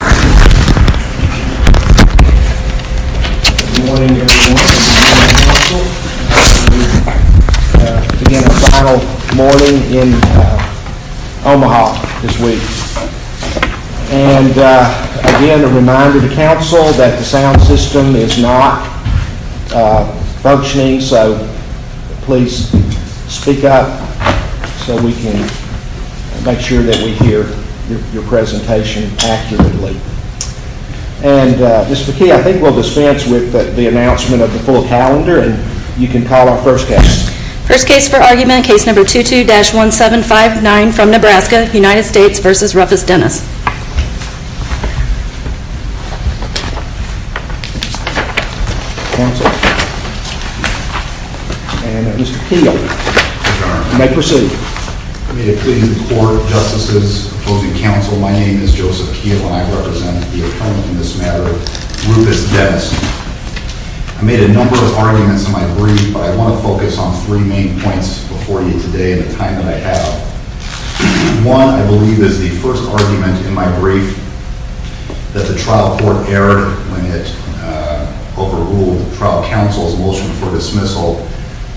Good morning, everyone. This is the Council. Again, our final morning in Omaha this week. And again, a reminder to Council that the sound system is not functioning, so please speak up so we can make sure that we hear your presentation accurately. And Mr. Key, I think we'll dispense with the announcement of the full calendar and you can call our first case. First case for argument, case number 22-1759 from Nebraska, United States v. Rufus Dennis. Counsel. And Mr. Keel, you may proceed. I made a plea to the court, justices, opposing counsel. My name is Joseph Keel and I represent the attorney in this matter, Rufus Dennis. I made a number of arguments in my brief, but I want to focus on three main points before you today in the time that I have. One, I believe, is the first argument in my brief that the trial court erred when it overruled the trial counsel's motion for dismissal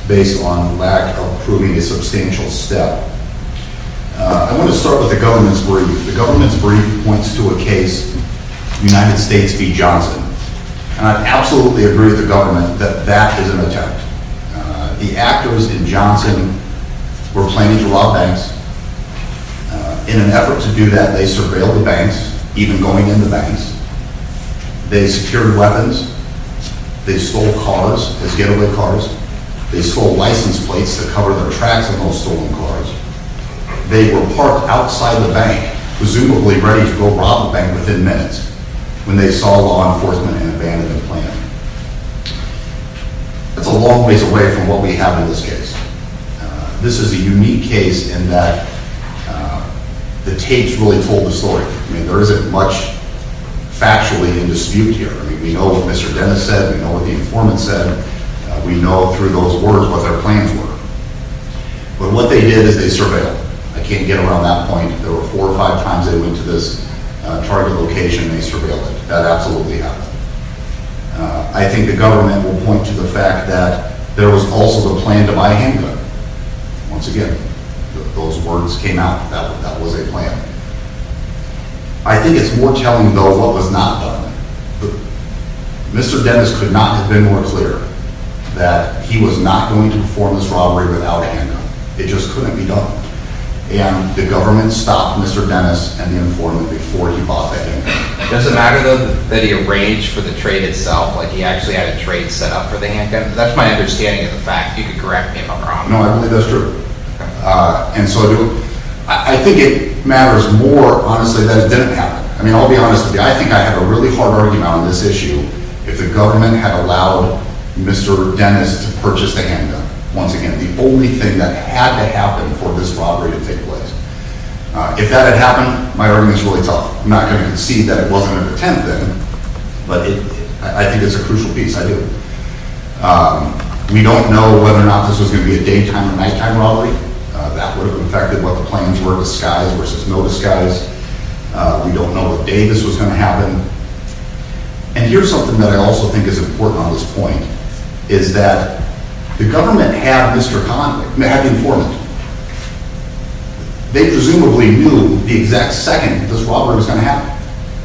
based on lack of proving a substantial step. I want to start with the government's brief. The government's brief points to a case, United States v. Johnson. And I absolutely agree with the government that that is an attempt. The activists in Johnson were planning to rob banks. In an effort to do that, they surveilled the banks, even going into banks. They secured weapons. They stole cars as getaway cars. They stole license plates to cover their tracks in those stolen cars. They were parked outside the bank, presumably ready to go rob a bank within minutes, when they saw law enforcement and abandoned the plan. That's a long ways away from what we have in this case. This is a unique case in that the tapes really told the story. I mean, there isn't much factually in dispute here. I mean, we know what Mr. Dennis said. We know what the informant said. We know through those words what their plans were. But what they did is they surveilled. I can't get around that point. If there were four or five times they went to this target location, they surveilled it. That absolutely happened. I think the government will point to the fact that there was also the plan to buy handguns. Once again, those words came out that that was a plan. I think it's more telling, though, what was not done. Mr. Dennis could not have been more clear that he was not going to perform this robbery without a handgun. It just couldn't be done. And the government stopped Mr. Dennis and the informant before he bought that handgun. Does it matter, though, that he arranged for the trade itself, like he actually had a trade set up for the handgun? That's my understanding of the fact. You could correct me if I'm wrong. No, I believe that's true. And so I do. I think it matters more, honestly, that it didn't happen. I mean, I'll be honest with you. I think I have a really hard argument on this issue if the government had allowed Mr. Dennis to purchase the handgun. Once again, the only thing that had to happen for this robbery to take place. If that had happened, my argument is really tough. I'm not going to concede that it wasn't a pretend thing, but I think it's a crucial piece. I do. We don't know whether or not this was going to be a daytime or nighttime robbery. That would have affected what the plans were, disguise versus no disguise. We don't know what day this was going to happen. And here's something that I also think is important on this point, is that the government had the informant. They presumably knew the exact second this robbery was going to happen.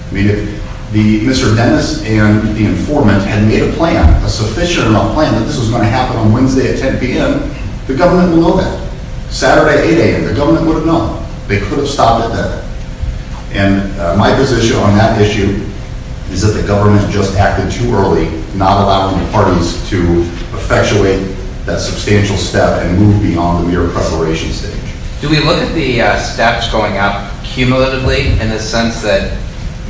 I mean, if Mr. Dennis and the informant had made a plan, a sufficient enough plan, that this was going to happen on Wednesday at 10 p.m., the government would know that. Saturday at 8 a.m., the government would have known. They could have stopped it then. And my position on that issue is that the government just acted too early, not allowing the parties to effectuate that substantial step and move beyond the mere incarceration stage. Do we look at the steps going up cumulatively in the sense that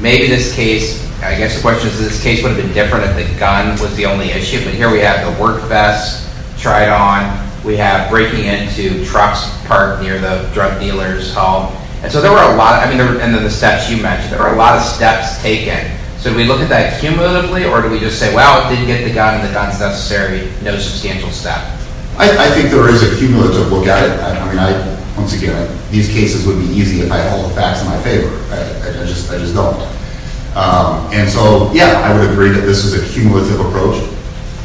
maybe this case – I guess the question is this case would have been different if the gun was the only issue. But here we have the work vests tried on. We have breaking into trucks parked near the drug dealers' home. And so there were a lot – I mean, and then the steps you mentioned, there were a lot of steps taken. So do we look at that cumulatively, or do we just say, well, it didn't get the gun, the gun's necessary, no substantial step? I think there is a cumulative look at it. I mean, once again, these cases would be easy if I hold facts in my favor. I just don't. And so, yeah, I would agree that this is a cumulative approach.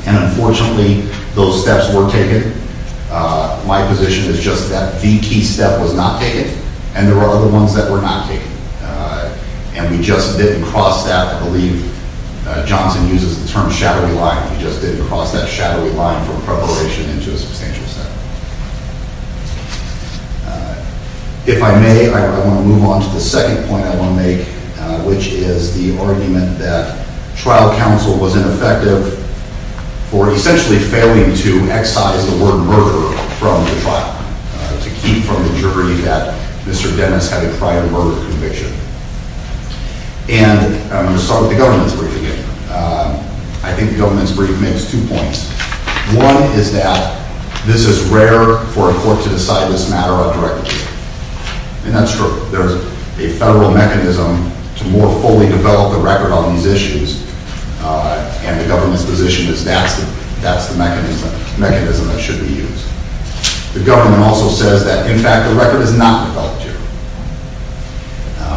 And unfortunately, those steps were taken. My position is just that the key step was not taken, and there were other ones that were not taken. And we just didn't cross that. I believe Johnson uses the term shadowy line. We just didn't cross that shadowy line from preparation into a substantial step. If I may, I want to move on to the second point I want to make, which is the argument that trial counsel was ineffective for essentially failing to excise the word murder from the trial, to keep from the jury that Mr. Dennis had a prior murder conviction. And I'm going to start with the government's brief again. I think the government's brief makes two points. One is that this is rare for a court to decide this matter out directly. And that's true. There's a federal mechanism to more fully develop the record on these issues, and the government's position is that's the mechanism that should be used. The government also says that, in fact, the record is not developed here.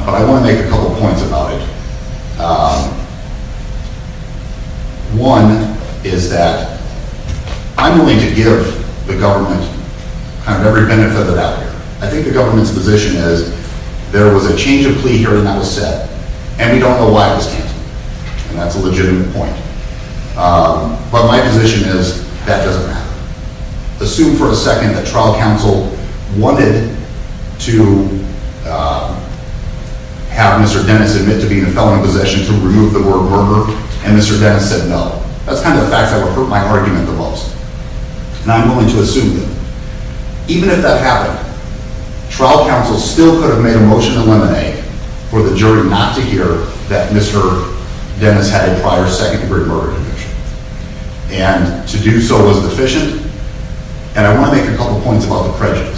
But I want to make a couple points about it. One is that I'm willing to give the government kind of every benefit of the doubt here. I think the government's position is there was a change of plea hearing that was set, and we don't know why it was canceled. And that's a legitimate point. But my position is that doesn't matter. Assume for a second that trial counsel wanted to have Mr. Dennis admit to being a felon in possession to remove the word murder, and Mr. Dennis said no. That's kind of the facts that would hurt my argument the most. And I'm willing to assume that, even if that happened, trial counsel still could have made a motion to eliminate for the jury not to hear that Mr. Dennis had a prior second-degree murder conviction. And to do so was deficient. And I want to make a couple points about the prejudice.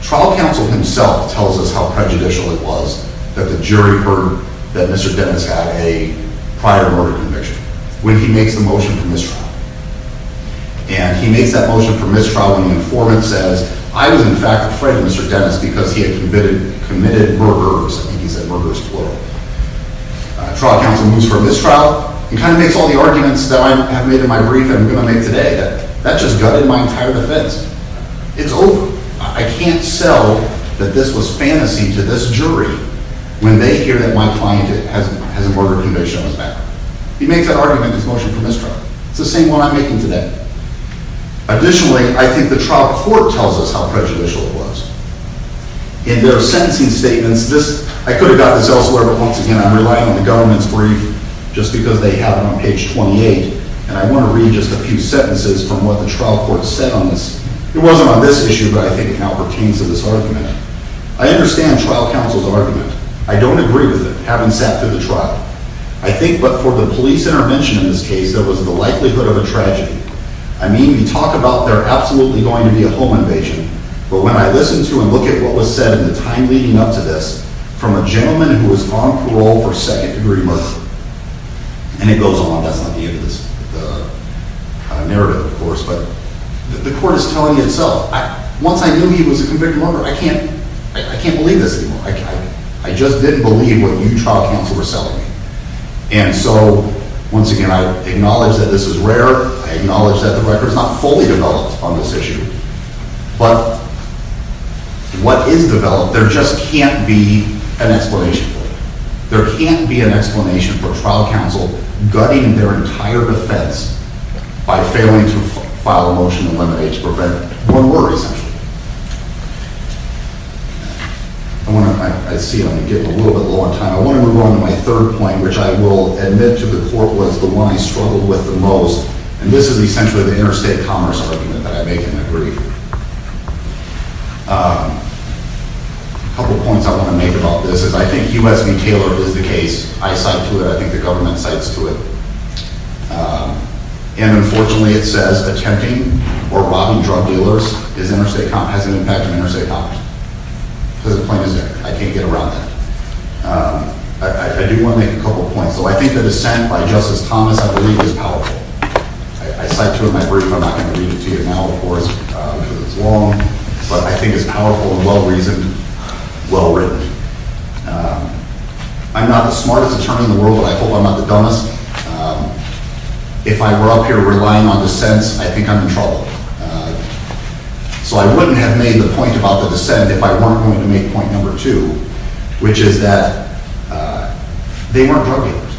Trial counsel himself tells us how prejudicial it was that the jury heard that Mr. Dennis had a prior murder conviction when he makes the motion for mistrial. And he makes that motion for mistrial when the informant says, I was, in fact, afraid of Mr. Dennis because he had committed murders. I think he said murders plural. Trial counsel moves for mistrial. He kind of makes all the arguments that I have made in my brief and I'm going to make today. That just gutted my entire defense. It's over. I can't sell that this was fantasy to this jury when they hear that my client has a murder conviction on his back. He makes that argument in his motion for mistrial. It's the same one I'm making today. Additionally, I think the trial court tells us how prejudicial it was. In their sentencing statements, I could have gotten this elsewhere, but once again, I'm relying on the government's brief just because they have it on page 28. And I want to read just a few sentences from what the trial court said on this. It wasn't on this issue, but I think it now pertains to this argument. I understand trial counsel's argument. I don't agree with it, having sat through the trial. I think but for the police intervention in this case, there was the likelihood of a tragedy. I mean, we talk about there absolutely going to be a home invasion. But when I listen to and look at what was said in the time leading up to this, from a gentleman who was on parole for second-degree murder, and it goes on. That's not the end of this kind of narrative, of course. But the court is telling itself. Once I knew he was a convicted murderer, I can't believe this anymore. I just didn't believe what you trial counsel were selling me. And so, once again, I acknowledge that this is rare. I acknowledge that the record is not fully developed on this issue. But what is developed, there just can't be an explanation for it. There can't be an explanation for trial counsel gutting their entire defense by failing to file a motion to eliminate to prevent more murders. I see I'm getting a little bit low on time. I want to move on to my third point, which I will admit to the court was the one I struggled with the most. And this is essentially the interstate commerce argument that I make in the brief. A couple points I want to make about this is I think Hugh S.V. Taylor is the case. I cite to it. I think the government cites to it. And unfortunately, it says attempting or robbing drug dealers has an impact on interstate commerce. Because the point is there. I can't get around that. I do want to make a couple points. So I think the dissent by Justice Thomas, I believe, is powerful. I cite to it in my brief. I'm not going to read it to you now, of course, because it's long. But I think it's powerful and well-reasoned, well-written. I'm not the smartest attorney in the world, but I hope I'm not the dumbest. If I were up here relying on dissents, I think I'm in trouble. So I wouldn't have made the point about the dissent if I weren't going to make point number two, which is that they weren't drug dealers.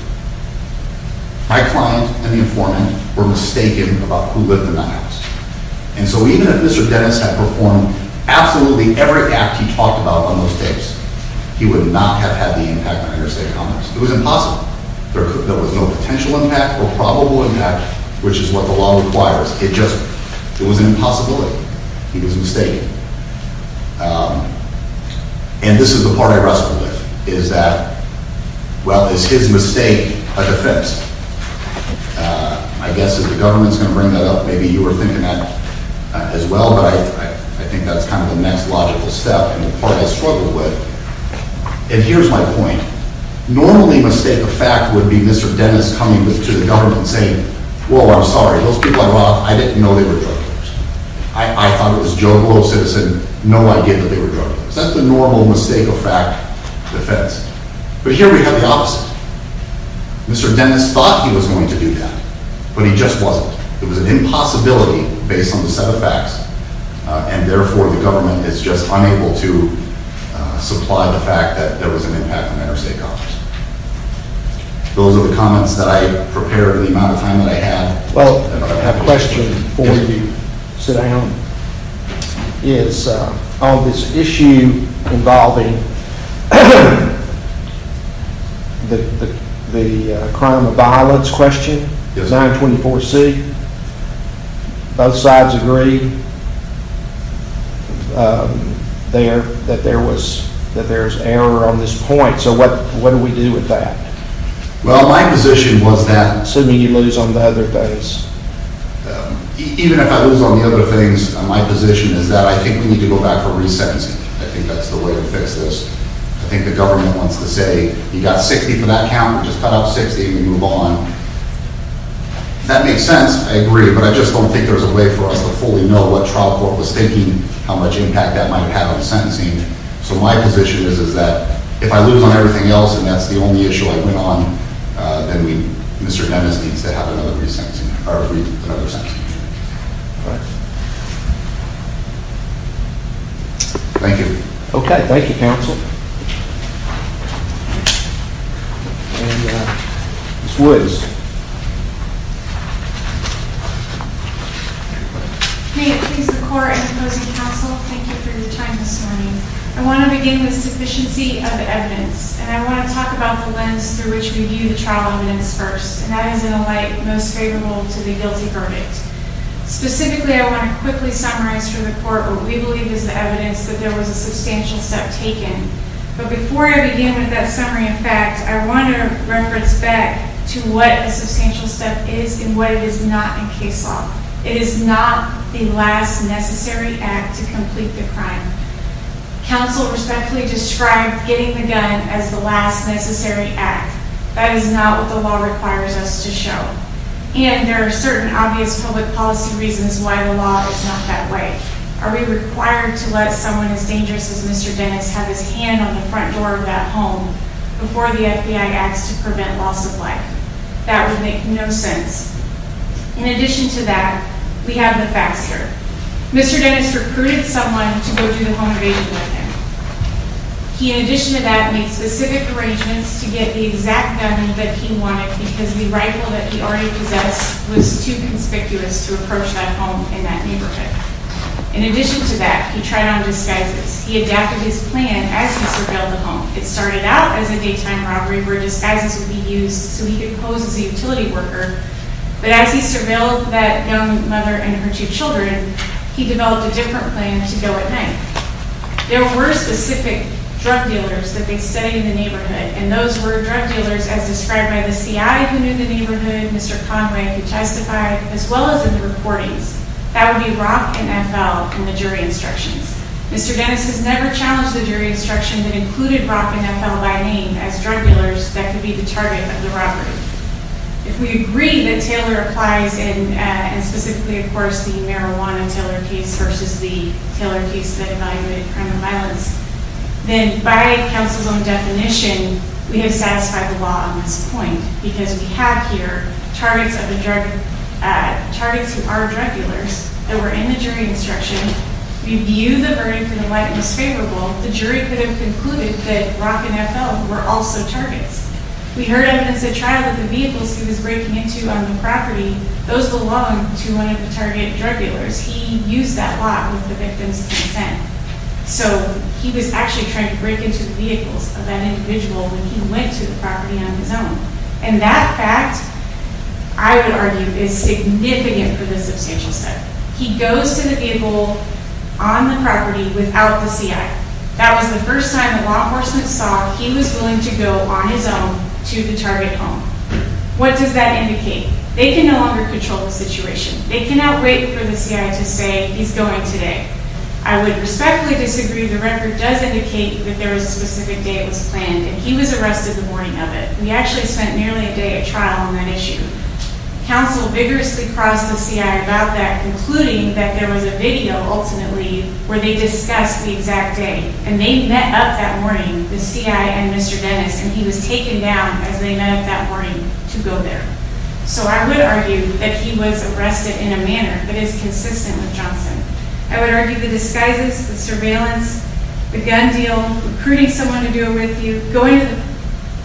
My client and the informant were mistaken about who lived in that house. And so even if Mr. Dennis had performed absolutely every act he talked about on those days, he would not have had the impact on interstate commerce. It was impossible. There was no potential impact or probable impact, which is what the law requires. It just, it was an impossibility. He was mistaken. And this is the part I wrestled with, is that, well, is his mistake a defense? I guess if the government's going to bring that up, maybe you were thinking that as well, but I think that's kind of the next logical step and the part I struggled with. And here's my point. Normally a mistake of fact would be Mr. Dennis coming to the government saying, whoa, I'm sorry, those people I brought up, I didn't know they were drug dealers. I thought it was Joe Glow's citizen, no idea that they were drug dealers. That's the normal mistake of fact defense. But here we have the opposite. Mr. Dennis thought he was going to do that, but he just wasn't. It was an impossibility based on the set of facts, and therefore the government is just unable to supply the fact that there was an impact on interstate commerce. Those are the comments that I prepared in the amount of time that I have. Well, I have a question for you. Sit down. On this issue involving the crime of violence question, 924C, both sides agreed that there's error on this point. So what do we do with that? Well, my position was that assuming you lose on the other things. Even if I lose on the other things, my position is that I think we need to go back for resentencing. I think that's the way to fix this. I think the government wants to say, you got 60 for that count, just cut out 60 and move on. That makes sense. I agree. But I just don't think there's a way for us to fully know what trial court was thinking, how much impact that might have on sentencing. So my position is that if I lose on everything else and that's the only issue I went on, then Mr. Evans needs to have another resentencing, or another sentencing hearing. Thank you. Okay. Thank you, counsel. Ms. Woods. May it please the court and opposing counsel, thank you for your time this morning. I want to begin with sufficiency of evidence. And I want to talk about the lens through which we view the trial evidence first. And that is in a light most favorable to the guilty verdict. Specifically, I want to quickly summarize for the court what we believe is the evidence that there was a substantial step taken. But before I begin with that summary of facts, I want to reference back to what a substantial step is and what it is not in case law. It is not the last necessary act to complete the crime. Counsel respectfully described getting the gun as the last necessary act. That is not what the law requires us to show. And there are certain obvious public policy reasons why the law is not that way. Are we required to let someone as dangerous as Mr. Dennis have his hand on the front door of that home before the FBI acts to prevent loss of life? That would make no sense. In addition to that, we have the facts here. Mr. Dennis recruited someone to go through the home invasion with him. He, in addition to that, made specific arrangements to get the exact gun that he wanted because the rifle that he already possessed was too conspicuous to approach that home in that neighborhood. In addition to that, he tried on disguises. He adapted his plan as he surveilled the home. It started out as a daytime robbery where disguises would be used so he could pose as a utility worker. But as he surveilled that young mother and her two children, he developed a different plan to go at night. There were specific drug dealers that they studied in the neighborhood. And those were drug dealers as described by the CI who knew the neighborhood, Mr. Conway who testified, as well as in the recordings. That would be ROC and FL in the jury instructions. Mr. Dennis has never challenged the jury instruction that included ROC and FL by name as drug dealers that could be the target of the robbery. If we agree that Taylor applies and specifically, of course, the marijuana Taylor case versus the Taylor case that evaluated crime and violence, then by counsel's own definition, we have satisfied the law on this point because we have here targets of the drug, targets who are drug dealers that were in the jury instruction. We view the verdict in a light and disfavorable. The jury could have concluded that ROC and FL were also targets. We heard evidence at trial that the vehicles he was breaking into on the property, those belonged to one of the target drug dealers. He used that lot with the victim's consent. So he was actually trying to break into the vehicles of that individual when he went to the property on his own. And that fact, I would argue, is significant for this substantial study. He goes to the vehicle on the property without the CI. That was the first time the law enforcement saw he was willing to go on his own to the target home. What does that indicate? They can no longer control the situation. They cannot wait for the CI to say he's going today. I would respectfully disagree. The record does indicate that there was a specific day it was planned and he was arrested the morning of it. We actually spent nearly a day at trial on that issue. Counsel vigorously crossed the CI about that, concluding that there was a video, ultimately, where they discussed the exact day. And they met up that morning, the CI and Mr. Dennis, and he was taken down as they met up that morning to go there. So I would argue that he was arrested in a manner that is consistent with Johnson. I would argue the disguises, the surveillance, the gun deal, recruiting someone to do it with you, going to the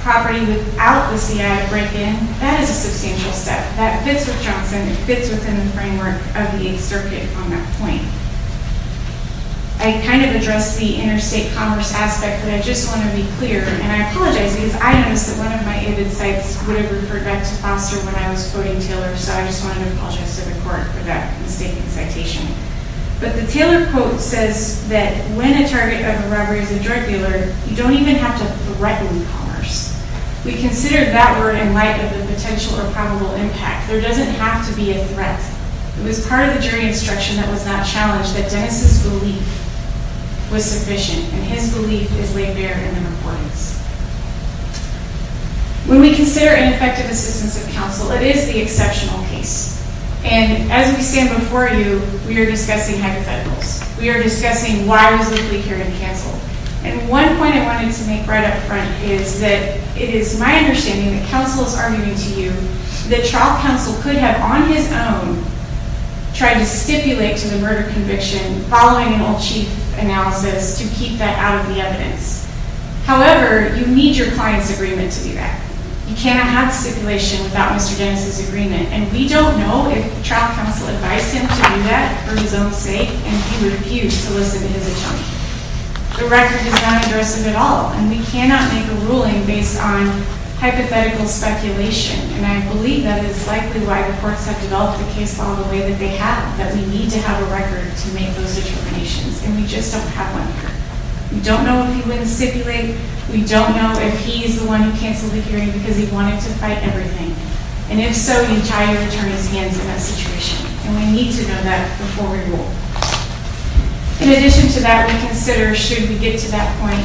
property without the CI to break in, that is a substantial step. That fits with Johnson. It fits within the framework of the Eighth Circuit on that point. I kind of addressed the interstate commerce aspect, but I just want to be clear, and I apologize because I noticed that one of my aided sites would have referred back to Foster when I was quoting Taylor, so I just wanted to apologize to the court for that mistaken citation. But the Taylor quote says that when a target of a robbery is a drug dealer, you don't even have to threaten commerce. We consider that word in light of the potential or probable impact. There doesn't have to be a threat. It was part of the jury instruction that was not challenged that Dennis' belief was sufficient, and his belief is laid bare in the reportings. When we consider ineffective assistance of counsel, it is the exceptional case. And as we stand before you, we are discussing hypotheticals. We are discussing why was the plea hearing canceled? And one point I wanted to make right up front is that it is my understanding that counsel is arguing to you that trial counsel could have on his own tried to stipulate to the murder conviction following an all-chief analysis to keep that out of the evidence. However, you need your client's agreement to do that. You cannot have stipulation without Mr. Dennis' agreement, and we don't know if trial counsel advised him to do that for his own sake, and he refused to listen to his attorney. The record is not addressive at all, and we cannot make a ruling based on hypothetical speculation, and I believe that is likely why the courts have developed the case along the way that they have, that we need to have a record to make those determinations, and we just don't have one here. We don't know if he wouldn't stipulate. We don't know if he is the one who canceled the hearing because he wanted to fight everything, and if so, the entire attorney's hands in that situation, and we need to know that before we rule. In addition to that, we consider, should we get to that point,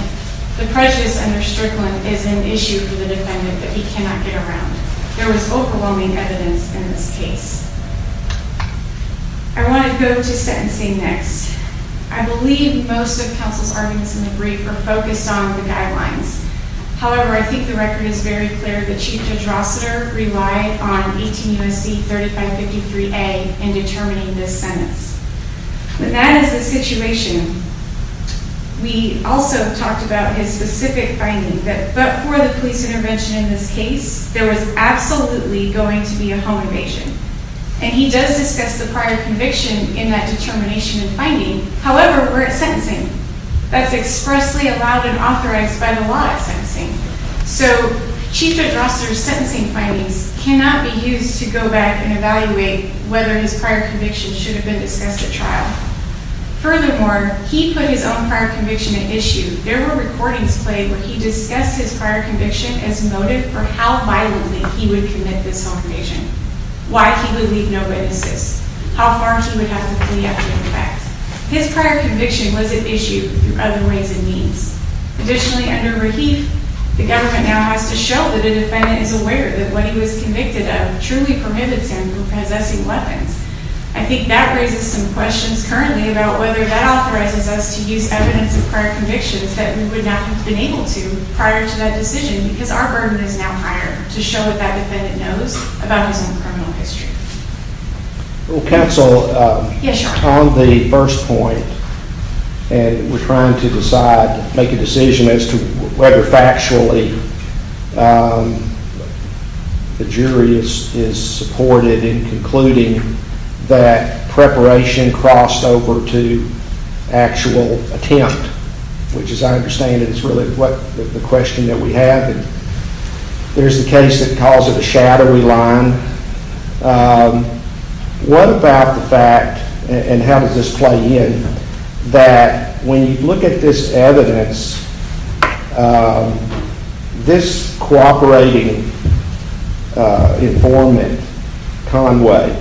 the prejudice under Strickland is an issue for the defendant that he cannot get around. There was overwhelming evidence in this case. I want to go to sentencing next. I believe most of counsel's arguments in the brief are focused on the guidelines. However, I think the record is very clear. The Chief Judge Rossiter relied on 18 U.S.C. 3553A in determining this sentence. When that is the situation, we also talked about his specific finding, that before the police intervention in this case, there was absolutely going to be a home evasion, and he does discuss the prior conviction in that determination and finding. However, we're at sentencing. That's expressly allowed and authorized by the law at sentencing, so Chief Judge Rossiter's sentencing findings cannot be used to go back and evaluate whether his prior conviction should have been discussed at trial. Furthermore, he put his own prior conviction at issue. There were recordings played where he discussed his prior conviction as motive for how violently he would commit this home evasion, why he would leave no witnesses, how far he would have the plea after the fact. His prior conviction was at issue through other ways and means. Additionally, under Rahif, the government now has to show that a defendant is aware that what he was convicted of truly prohibits him from possessing weapons. I think that raises some questions currently about whether that authorizes us to use evidence of prior convictions that we would not have been able to prior to that decision because our burden is now higher to show what that defendant knows about his own criminal history. Well, counsel, on the first point, and we're trying to decide, make a decision as to whether factually the jury is supported in concluding that preparation crossed over to actual attempt, which as I understand it is really the question that we have. There's the case that calls it a shadowy line. What about the fact, and how does this play in, that when you look at this evidence, this cooperating informant, Conway,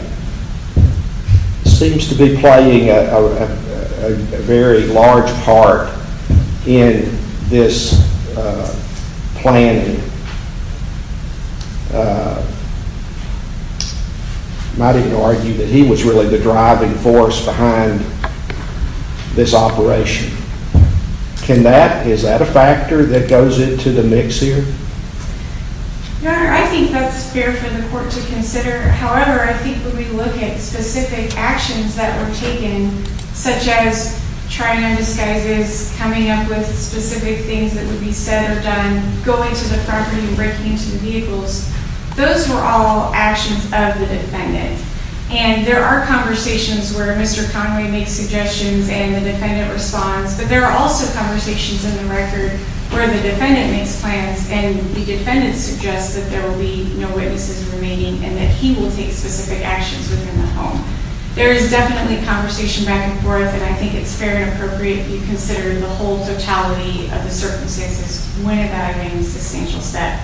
seems to be playing a very large part in this planning. Might even argue that he was really the driving force behind this operation. Can that, is that a factor that goes into the mix here? Your Honor, I think that's fair for the court to consider. However, I think when we look at specific actions that were taken, such as trying on disguises, coming up with specific things that would be said or done, going to the property and breaking into the vehicles, those were all actions of the defendant. And there are conversations where Mr. Conway makes suggestions and the defendant responds, but there are also conversations in the record where the defendant makes plans and the defendant suggests that there will be no witnesses remaining and that he will take specific actions within the home. There is definitely conversation back and forth, and I think it's fair and appropriate to consider the whole totality of the circumstances. One of that remains a substantial step.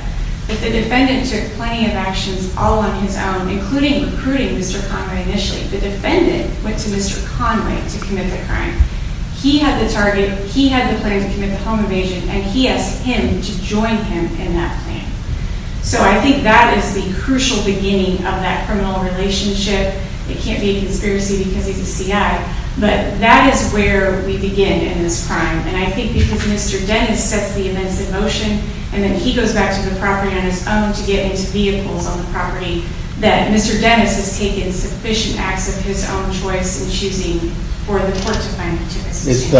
If the defendant took plenty of actions all on his own, including recruiting Mr. Conway initially, the defendant went to Mr. Conway to commit the crime. He had the target, he had the plan to commit the home invasion, and he asked him to join him in that plan. So I think that is the crucial beginning of that criminal relationship. It can't be a conspiracy because he's a CI, but that is where we begin in this crime. And I think because Mr. Dennis sets the events in motion and then he goes back to the property on his own to get into vehicles on the property, that Mr. Dennis has taken sufficient acts of his own choice in choosing for the court to find him to assist.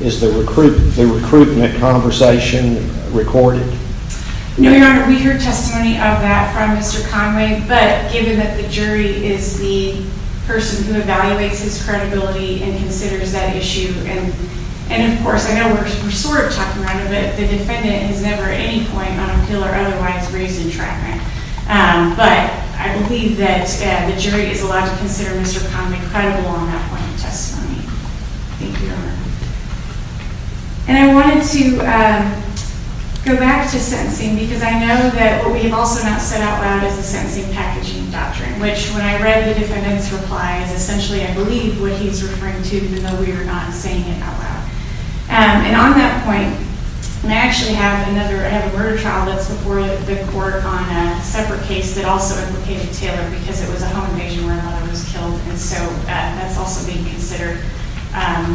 Is the recruitment conversation recorded? No, Your Honor. We heard testimony of that from Mr. Conway, but given that the jury is the person who evaluates his credibility and considers that issue, and of course I know we're sort of talking about it, but the defendant has never at any point on appeal or otherwise raised entrapment. But I believe that the jury is allowed to consider Mr. Conway credible on that point of testimony. Thank you, Your Honor. And I wanted to go back to sentencing because I know that what we have also not set out loud is the sentencing packaging doctrine, which when I read the defendant's replies, essentially I believe what he's referring to, even though we are not saying it out loud. And on that point, and I actually have another murder trial that's before the court on a separate case that also implicated Taylor because it was a home invasion where another was killed, and so that's also being considered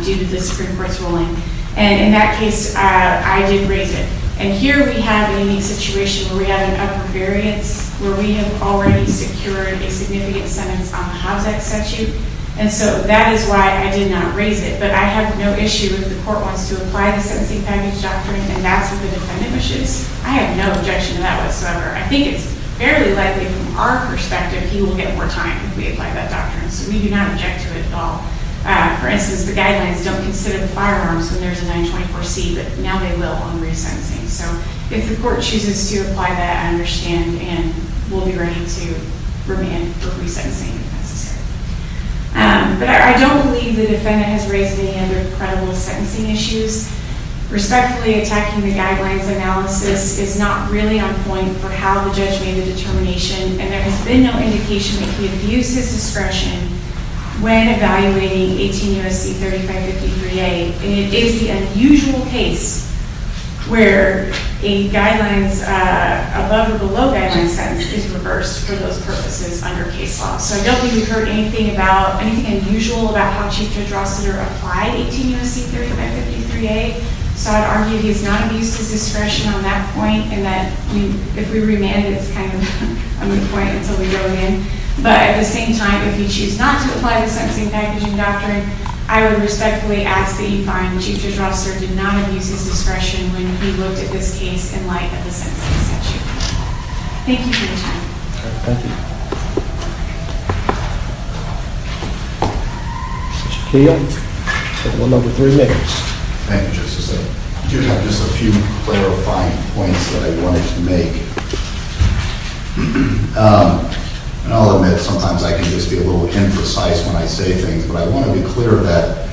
due to the Supreme Court's ruling. And in that case, I did raise it. And here we have a unique situation where we have an upper variance where we have already secured a significant sentence on the Hobbs Act statute, and so that is why I did not raise it. But I have no issue if the court wants to apply the sentencing package doctrine and that's what the defendant wishes. I have no objection to that whatsoever. I think it's fairly likely from our perspective he will get more time if we apply that doctrine. So we do not object to it at all. For instance, the guidelines don't consider the firearms when there's a 924C, but now they will on resentencing. So if the court chooses to apply that, I understand and we'll be ready to remand for resentencing if necessary. But I don't believe the defendant has raised any other credible sentencing issues. Respectfully, attacking the guidelines analysis is not really on point for how the judge made the determination, and there has been no indication that he abused his discretion when evaluating 18 U.S.C. 3553A, and it is the unusual case where a guidelines, above or below guidelines sentence is reversed for those purposes under case law. So I don't think we've heard anything unusual about how Chief Judge Rossiter applied 18 U.S.C. 3553A, so I'd argue he has not abused his discretion on that point, and that if we remand it, it's kind of on the point until we go again. But at the same time, if you choose not to apply the sentencing packaging doctrine, I would respectfully ask that you find Chief Judge Rossiter did not abuse his discretion when he looked at this case in light of the sentencing statute. Thank you for your time. Thank you. Thank you. Mr. Keogh, table number three, Nick. Thank you, Justice. I do have just a few clarifying points that I wanted to make. And I'll admit, sometimes I can just be a little imprecise when I say things, but I want to be clear that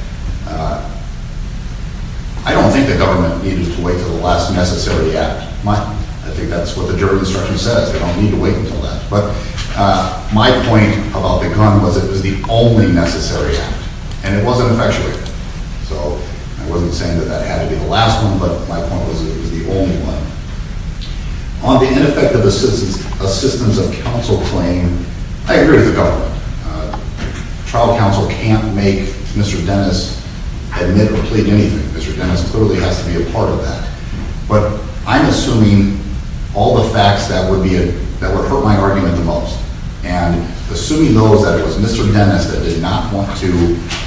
I don't think the government needed to wait until the last necessary act. I think that's what the jury instruction says. They don't need to wait until that. But my point about the gun was it was the only necessary act. And it wasn't effectuated. So I wasn't saying that that had to be the last one, but my point was it was the only one. On the ineffective assistance of counsel claim, I agree with the government. Trial counsel can't make Mr. Dennis admit or plead anything. Mr. Dennis clearly has to be a part of that. But I'm assuming all the facts that would hurt my argument the most. Even though that it was Mr. Dennis that did not want to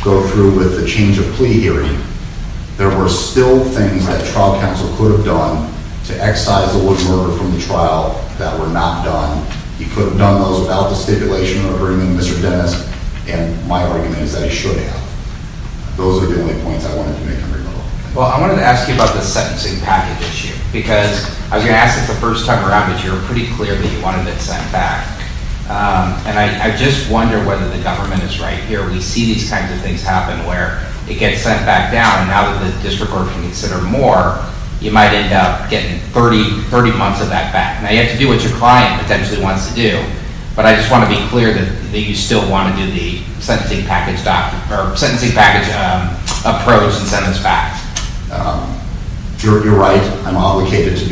go through with the change of plea hearing, there were still things that trial counsel could have done to excise the wooden ruler from the trial that were not done. He could have done those without the stipulation of bringing Mr. Dennis, and my argument is that he should have. Those are the only points I wanted to make in the rebuttal. Well, I wanted to ask you about the sentencing package issue because I was going to ask and I just wonder whether the government is right here. We see these kinds of things happen where it gets sent back down and now that the district court can consider more, you might end up getting 30 months of that back. Now, you have to do what your client potentially wants to do, but I just want to be clear that you still want to do the sentencing package approach and send this back. You're right. I'm obligated to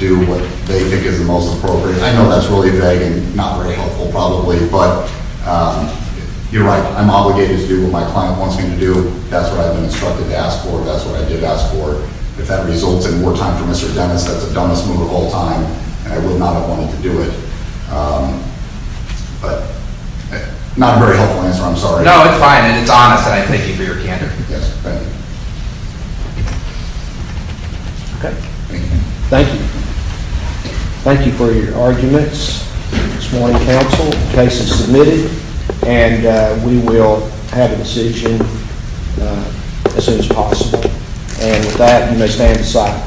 do what they think is the most appropriate. I know that's really vague and not very helpful probably, but you're right. I'm obligated to do what my client wants me to do. That's what I've been instructed to ask for. That's what I did ask for. If that results in more time for Mr. Dennis, that's the dumbest move of all time and I would not have wanted to do it, but not a very helpful answer. I'm sorry. No, it's fine and it's honest and I thank you for your candor. Thank you for your arguments this morning, counsel. The case is submitted and we will have a decision as soon as possible. With that, you may stand aside.